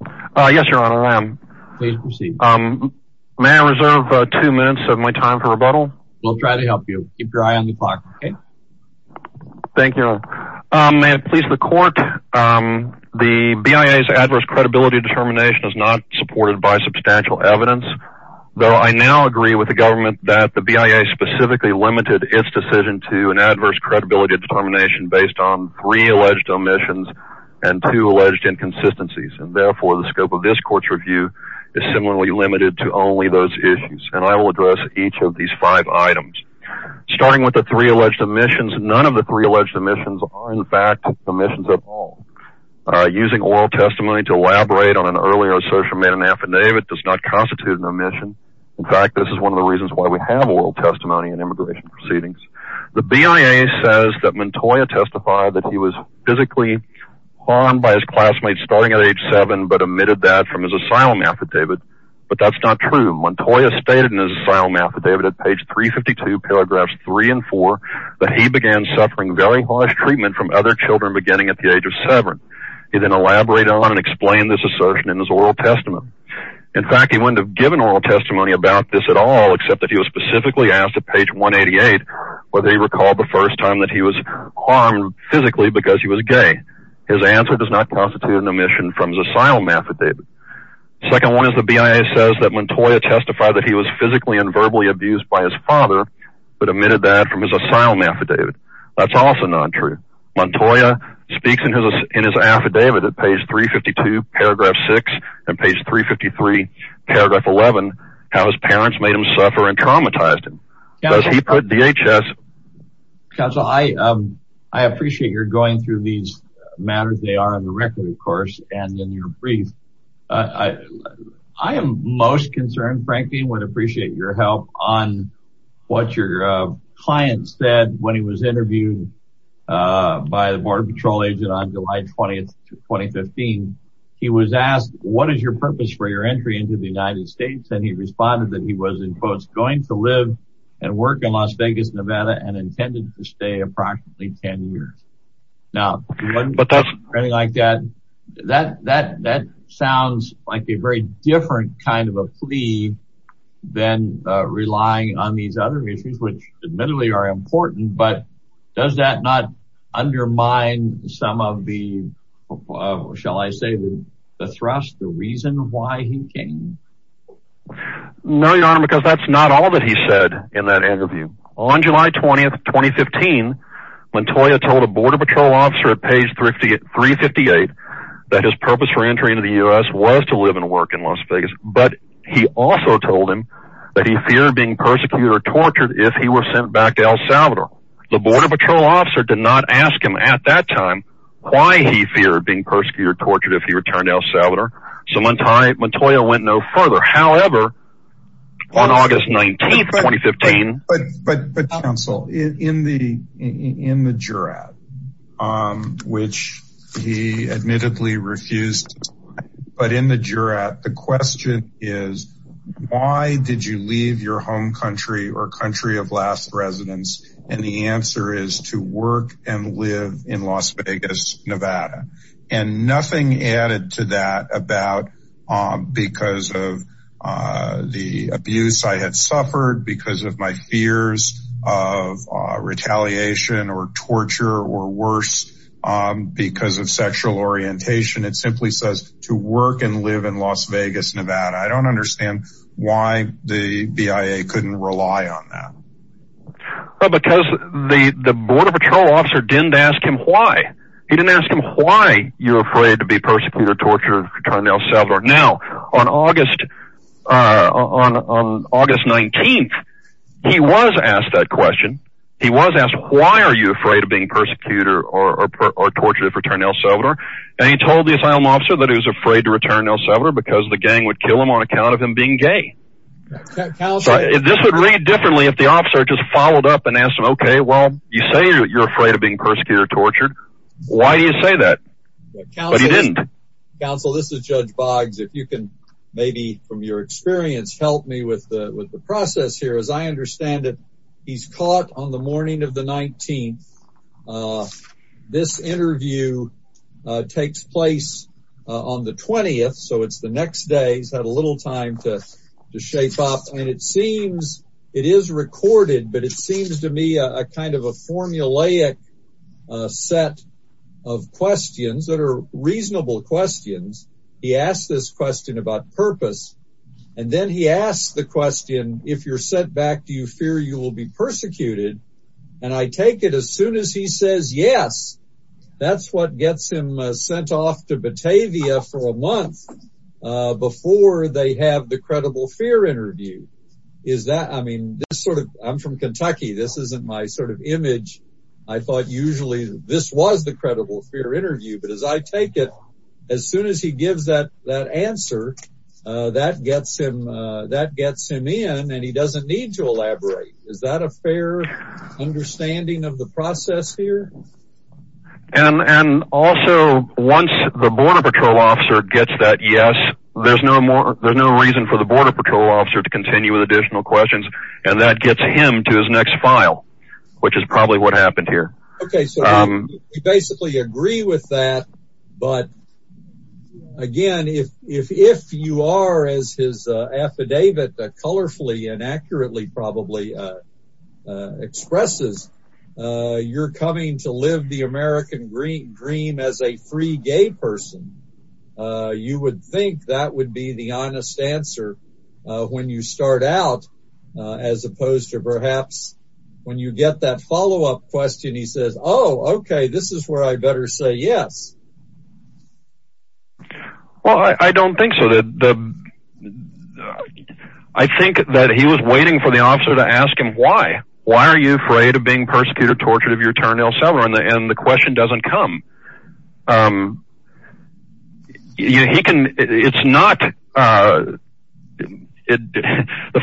May I reserve two minutes of my time for rebuttal? We'll try to help you. Keep your eye on the clock, okay? Thank you, Your Honor. May it please the Court, the BIA's adverse credibility determination is not supported by substantial evidence, though I now agree with the government that the BIA specifically limited its decision to an adverse credibility determination based on three alleged omissions and two alleged inconsistencies, and therefore the scope of this Court's review is similarly limited to only those issues, and I will address each of these five items. Starting with the three alleged omissions, none of the three alleged omissions are in fact omissions at all. Using oral testimony to elaborate on an earlier assertion made in an affidavit does not constitute an omission. In fact, this is one of the reasons why we have oral testimony in immigration proceedings. The BIA says that Montoya testified that he was physically harmed by his classmates starting at age 7, but omitted that from his asylum affidavit, but that's not true. Montoya stated in his asylum affidavit at page 352, paragraphs 3 and 4, that he began suffering very harsh treatment from other children beginning at the age of 7. He then elaborated on and explained this assertion in his oral testimony. In fact, he wouldn't have given oral testimony about this at all, except that he was specifically asked at page 188 whether he recalled the first time that he was harmed physically because he was gay. His answer does not constitute an omission from his asylum affidavit. The second one is the BIA says that Montoya testified that he was physically and verbally abused by his father, but omitted that from his asylum affidavit. That's also not true. Montoya speaks in his affidavit at page 352, paragraph 6, and page 353, paragraph 11, how his parents made him suffer and traumatized him. Does he put DHS... Counsel, I appreciate your going through these matters. They are on the record, of course, and in your brief. I am most concerned, frankly, and would appreciate your help on what your client said when he was interviewed by the Border Patrol agent on July 20th, 2015. He was asked, what is your purpose for your entry into the United States? And he responded that he was, in quotes, going to live and work in Las Vegas, Nevada, and intended to stay approximately 10 years. Now, anything like that, that sounds like a very different kind of a plea than relying on these other issues, which admittedly are important. But does that not undermine some of the, shall I say, the thrust, the reason why he came? No, Your Honor, because that's not all that he said in that interview. On July 20th, 2015, Montoya told a Border Patrol officer at page 358 that his purpose for entry into the U.S. was to live and work in Las Vegas, but he also told him that he feared being persecuted or tortured if he were sent back to El Salvador. The Border Patrol officer did not ask him at that time why he feared being persecuted or tortured if he returned to El Salvador, so Montoya went no further. However, on August 19th, 2015— But, counsel, in the jurat, which he admittedly refused, but in the jurat, the question is, why did you leave your home country or country of last residence? And the answer is to work and live in Las Vegas, Nevada. And nothing added to that about because of the abuse I had suffered, because of my fears of retaliation or torture or worse, because of sexual orientation. It simply says to work and live in Las Vegas, Nevada. I don't understand why the BIA couldn't rely on that. Because the Border Patrol officer didn't ask him why. He didn't ask him why you're afraid to be persecuted or tortured if you return to El Salvador. Now, on August 19th, he was asked that question. He was asked, why are you afraid of being persecuted or tortured if you return to El Salvador? And he told the asylum officer that he was afraid to return to El Salvador because the gang would kill him on account of him being gay. This would read differently if the officer just followed up and asked him, okay, well, you say you're afraid of being persecuted or tortured. Why do you say that? But he didn't. Counsel, this is Judge Boggs. If you can maybe, from your experience, help me with the process here. As I understand it, he's caught on the morning of the 19th. This interview takes place on the 20th, so it's the next day. He's had a little time to shape up. And it seems it is recorded, but it seems to me a kind of a formulaic set of questions that are reasonable questions. He asks this question about purpose. And then he asks the question, if you're sent back, do you fear you will be persecuted? And I take it as soon as he says yes, that's what gets him sent off to Batavia for a month before they have the credible fear interview. I mean, I'm from Kentucky. This isn't my sort of image. I thought usually this was the credible fear interview. But as I take it, as soon as he gives that answer, that gets him in, and he doesn't need to elaborate. Is that a fair understanding of the process here? And also, once the Border Patrol officer gets that yes, there's no reason for the Border Patrol officer to continue with additional questions, and that gets him to his next file, which is probably what happened here. Okay, so we basically agree with that. But again, if you are, as his affidavit colorfully and accurately probably expresses, you're coming to live the American dream as a free gay person, you would think that would be the honest answer when you start out, as opposed to perhaps when you get that follow-up question, he says, oh, okay, this is where I better say yes. Well, I don't think so. I think that he was waiting for the officer to ask him, why? Why are you afraid of being persecuted, tortured, of your turn ill cellar? And the question doesn't come. The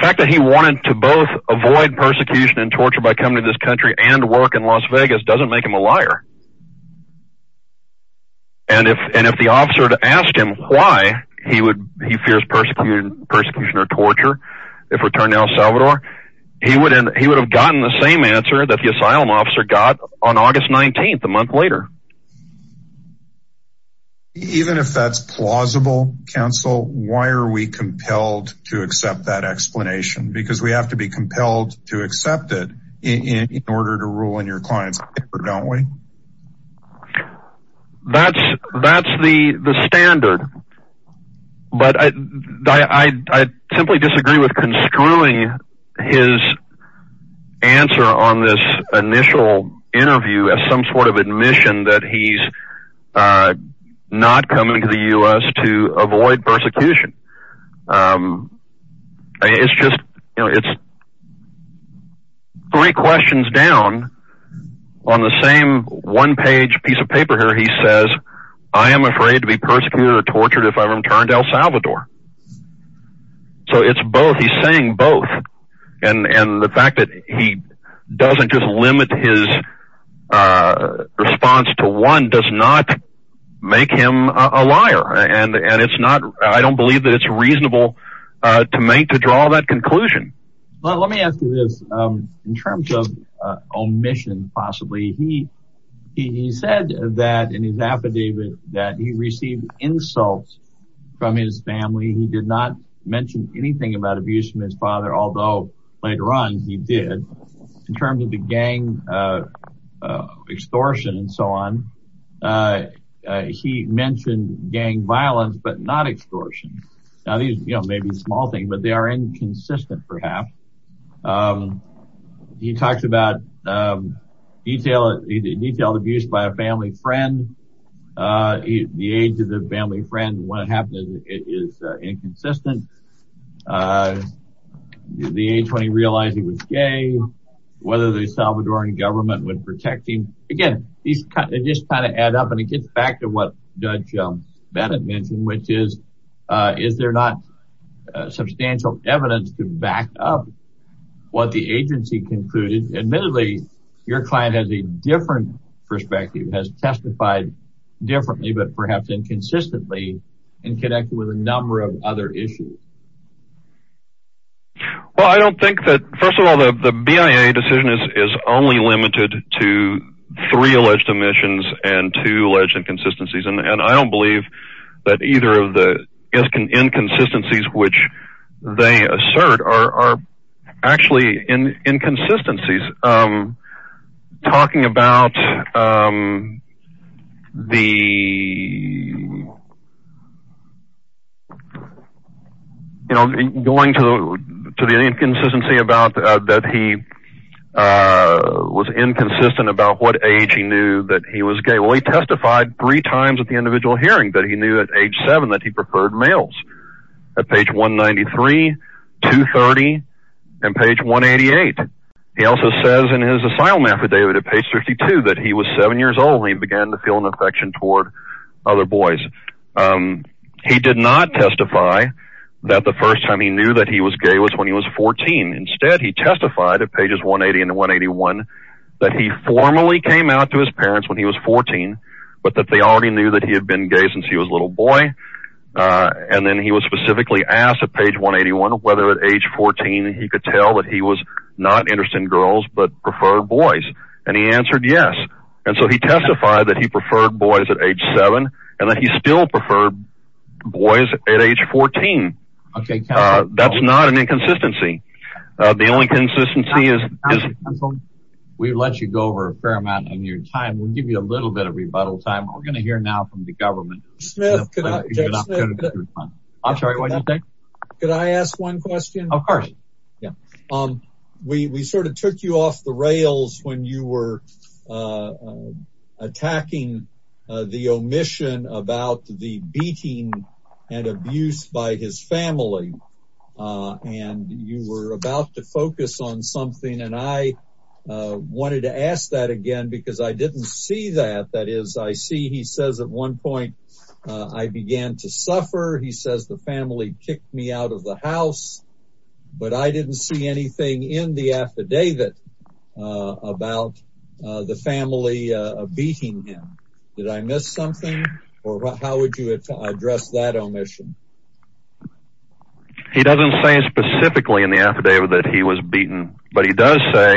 fact that he wanted to both avoid persecution and torture by coming to this country and work in Las Vegas doesn't make him a liar. And if the officer had asked him why he fears persecution or torture, if we turn to El Salvador, he would have gotten the same answer that the asylum officer got on August 19th, a month later. Even if that's plausible, counsel, why are we compelled to accept that explanation? Because we have to be compelled to accept it in order to rule in your client's favor, don't we? That's the standard. But I simply disagree with construing his answer on this initial interview as some sort of admission that he's not coming to the U.S. to avoid persecution. It's just three questions down on the same one-page piece of paper here. He says, I am afraid to be persecuted or tortured if I return to El Salvador. So it's both. He's saying both. And the fact that he doesn't just limit his response to one does not make him a liar. And I don't believe that it's reasonable to draw that conclusion. Well, let me ask you this. In terms of omission, possibly, he said that in his affidavit that he received insults from his family. He did not mention anything about abuse from his father, although later on he did. In terms of the gang extortion and so on, he mentioned gang violence, but not extortion. Now, these may be a small thing, but they are inconsistent, perhaps. He talks about detailed abuse by a family friend. The age of the family friend when it happened is inconsistent. The age when he realized he was gay, whether the Salvadoran government would protect him. Again, these just kind of add up, and it gets back to what Judge Bennett mentioned, which is, is there not substantial evidence to back up what the agency concluded? Admittedly, your client has a different perspective, has testified differently, but perhaps inconsistently and connected with a number of other issues. Well, I don't think that, first of all, the BIA decision is only limited to three alleged omissions and two alleged inconsistencies. And I don't believe that either of the inconsistencies which they assert are actually inconsistencies. Talking about the, going to the inconsistency about that he was inconsistent about what age he knew that he was gay. Well, he testified three times at the individual hearing that he knew at age seven that he preferred males. At page 193, 230, and page 188. He also says in his asylum affidavit at page 52 that he was seven years old when he began to feel an affection toward other boys. He did not testify that the first time he knew that he was gay was when he was 14. Instead, he testified at pages 180 and 181 that he formally came out to his parents when he was 14, but that they already knew that he had been gay since he was a little boy. And then he was specifically asked at page 181 whether at age 14 he could tell that he was not interested in girls but preferred boys. And he answered yes. And so he testified that he preferred boys at age seven and that he still preferred boys at age 14. That's not an inconsistency. The only consistency is we let you go over a fair amount of your time. We'll give you a little bit of rebuttal time. We're going to hear now from the government. I'm sorry. What do you think? Could I ask one question? Of course. Yeah. We sort of took you off the rails when you were attacking the omission about the beating and abuse by his family. And you were about to focus on something. And I wanted to ask that again because I didn't see that. That is, I see he says at one point I began to suffer. He says the family kicked me out of the house. But I didn't see anything in the affidavit about the family beating him. Did I miss something? Or how would you address that omission? He doesn't say specifically in the affidavit that he was beaten. But he does say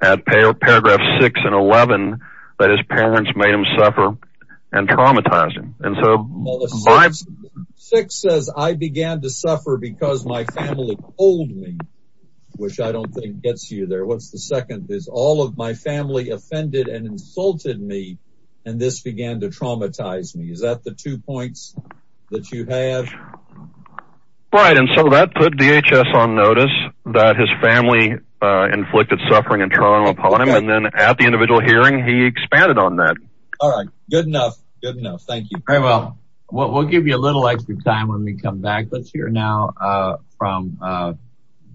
at paragraph 6 and 11 that his parents made him suffer and traumatized him. 6 says I began to suffer because my family told me. Which I don't think gets you there. What's the second? All of my family offended and insulted me. And this began to traumatize me. Is that the two points that you have? Right. And so that put DHS on notice that his family inflicted suffering and trauma upon him. And then at the individual hearing, he expanded on that. All right. Good enough. Thank you. Very well. We'll give you a little extra time when we come back. Let's hear now from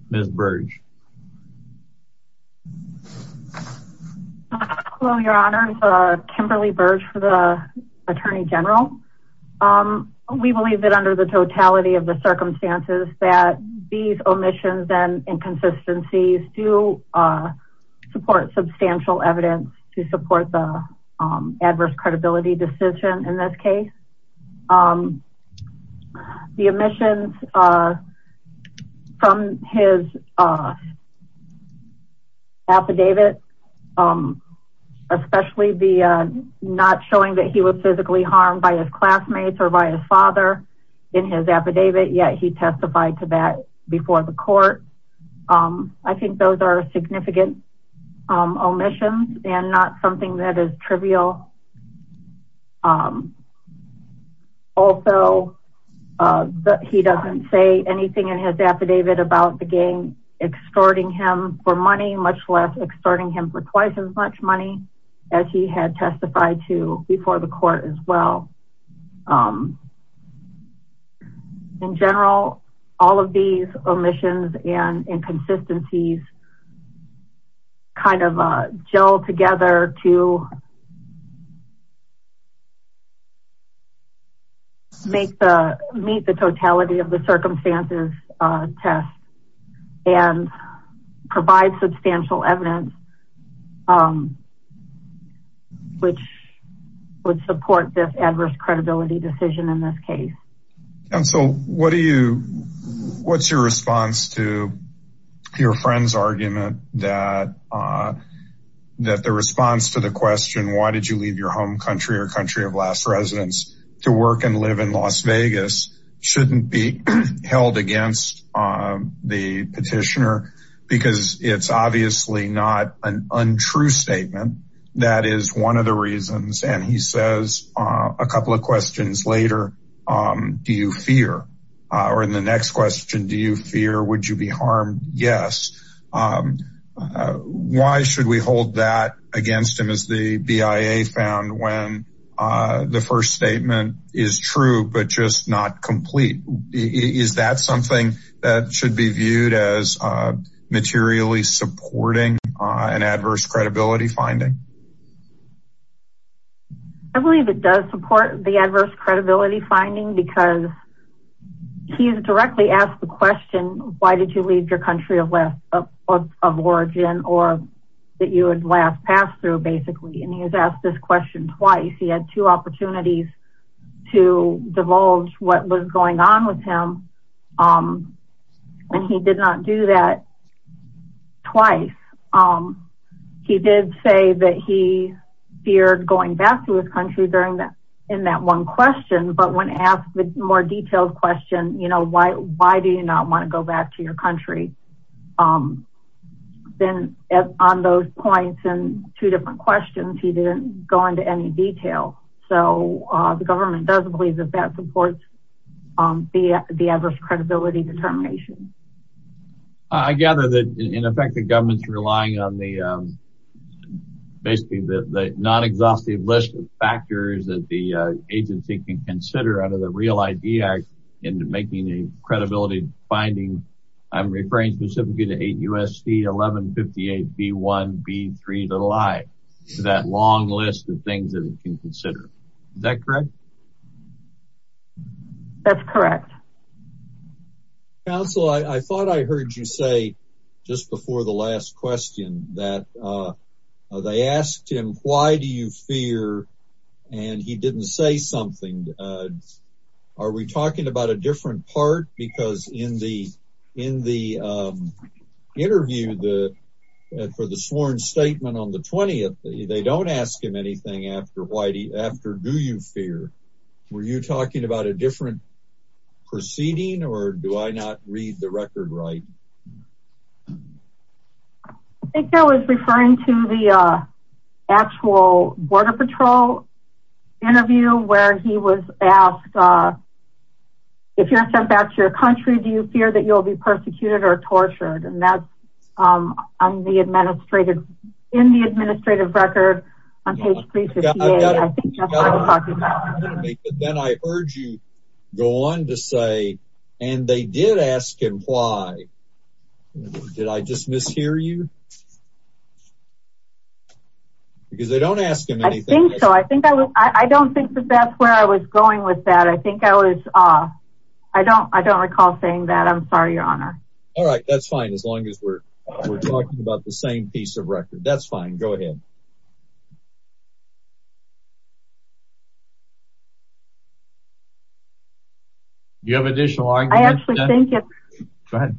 Ms. Burge. Hello, Your Honors. Kimberly Burge for the Attorney General. We believe that under the totality of the circumstances that these omissions and inconsistencies do support substantial evidence to support the adverse credibility decision in this case. The omissions from his affidavit, especially the not showing that he was physically harmed by his classmates or by his father in his affidavit, yet he testified to that before the court. I think those are significant omissions and not something that is trivial. Also, he doesn't say anything in his affidavit about the gang extorting him for money, much less extorting him for twice as much money as he had testified to before the court as well. In general, all of these omissions and inconsistencies kind of gel together to meet the totality of the circumstances test and provide substantial evidence which would support this adverse credibility decision in this case. What's your response to your friend's argument that the response to the question, because it's obviously not an untrue statement. That is one of the reasons. And he says a couple of questions later, do you fear or in the next question, do you fear? Would you be harmed? Yes. Why should we hold that against him as the BIA found when the first statement is true, but just not complete? Is that something that should be viewed as materially supporting an adverse credibility finding? I believe it does support the adverse credibility finding because he's directly asked the question, why did you leave your country of origin or that you would last pass through basically? And he has asked this question twice. He had two opportunities to divulge what was going on with him. And he did not do that twice. He did say that he feared going back to his country in that one question. But when asked the more detailed question, why do you not want to go back to your country? Then on those points and two different questions, he didn't go into any detail. So the government doesn't believe that that supports the adverse credibility determination. I gather that in effect, the government's relying on the non-exhaustive list of factors that the agency can consider under the Real ID Act into making a credibility finding. I'm referring specifically to 8 U.S.C. 1158B1B3 to lie. So that long list of things that we can consider. Is that correct? That's correct. Counsel, I thought I heard you say just before the last question that they asked him, why do you fear? And he didn't say something. Are we talking about a different part? Because in the interview for the sworn statement on the 20th, they don't ask him anything after, do you fear? Were you talking about a different proceeding or do I not read the record right? I think I was referring to the actual border patrol interview where he was asked, if you're sent back to your country, do you fear that you'll be persecuted or tortured? And that's in the administrative record on page 358. Then I heard you go on to say, and they did ask him why, did I just mishear you? Because they don't ask him anything. I think so. I don't think that that's where I was going with that. I think I was, I don't recall saying that. I'm sorry, your honor. All right. That's fine. As long as we're talking about the same piece of record. That's fine. Go ahead. Do you have additional arguments? I actually think it's. Go ahead.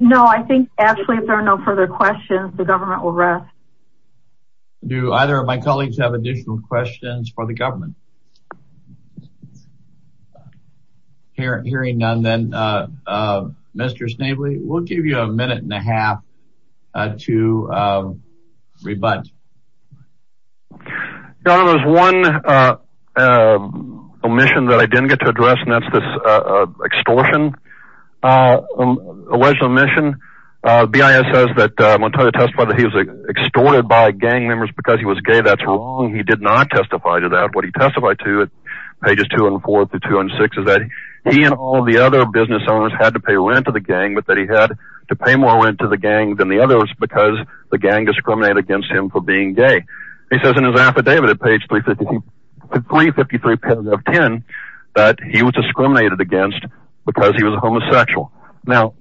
No, I think actually if there are no further questions, the government will rest. Do either of my colleagues have additional questions for the government? Hearing none then, Mr. Snavely, we'll give you a minute and a half to rebut. Your honor, there's one omission that I didn't get to address and that's this extortion. Alleged omission. BIS says that Montoya testified that he was extorted by gang members because he was gay. That's wrong. He did not testify to that. What he testified to at pages 204 through 206 is that he and all the other business owners had to pay rent to the gang, but that he had to pay more rent to the gang than the being gay. He says in his affidavit at page 353 paragraph 10 that he was discriminated against because he was homosexual. Now,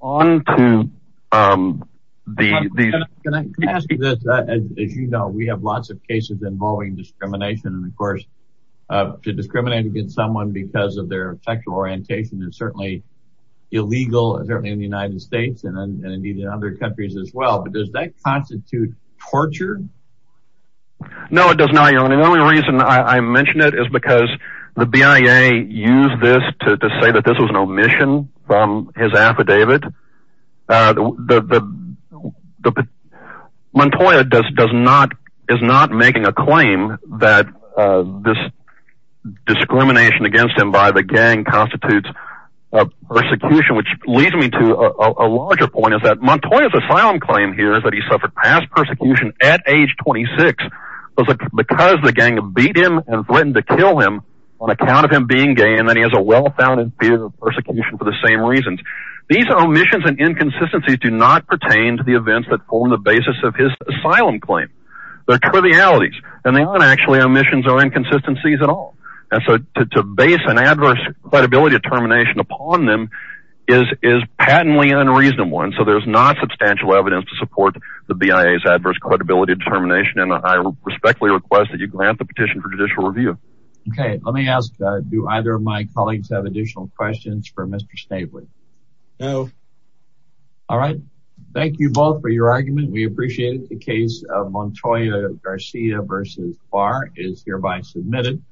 on to the. Can I ask you this? As you know, we have lots of cases involving discrimination and of course to discriminate against someone because of their sexual orientation is certainly illegal, certainly in the United States and in other countries as well. Does that constitute torture? No, it does not. Your honor. The only reason I mention it is because the BIA used this to say that this was an omission from his affidavit. Montoya is not making a claim that this discrimination against him by the gang constitutes a persecution which leads me to a larger point is that Montoya's asylum claim here is that he suffered past persecution at age 26 because the gang beat him and threatened to kill him on account of him being gay and that he has a well-founded fear of persecution for the same reasons. These omissions and inconsistencies do not pertain to the events that form the basis of his asylum claim. They're trivialities and they aren't actually omissions or inconsistencies at all. To base an adverse credibility determination upon them is patently unreasonable and so there's not substantial evidence to support the BIA's adverse credibility determination and I respectfully request that you grant the petition for judicial review. Okay. Let me ask, do either of my colleagues have additional questions for Mr. Snavely? No. All right. Thank you both for your argument. We appreciate it. The case of Montoya Garcia v. Barr is hereby submitted.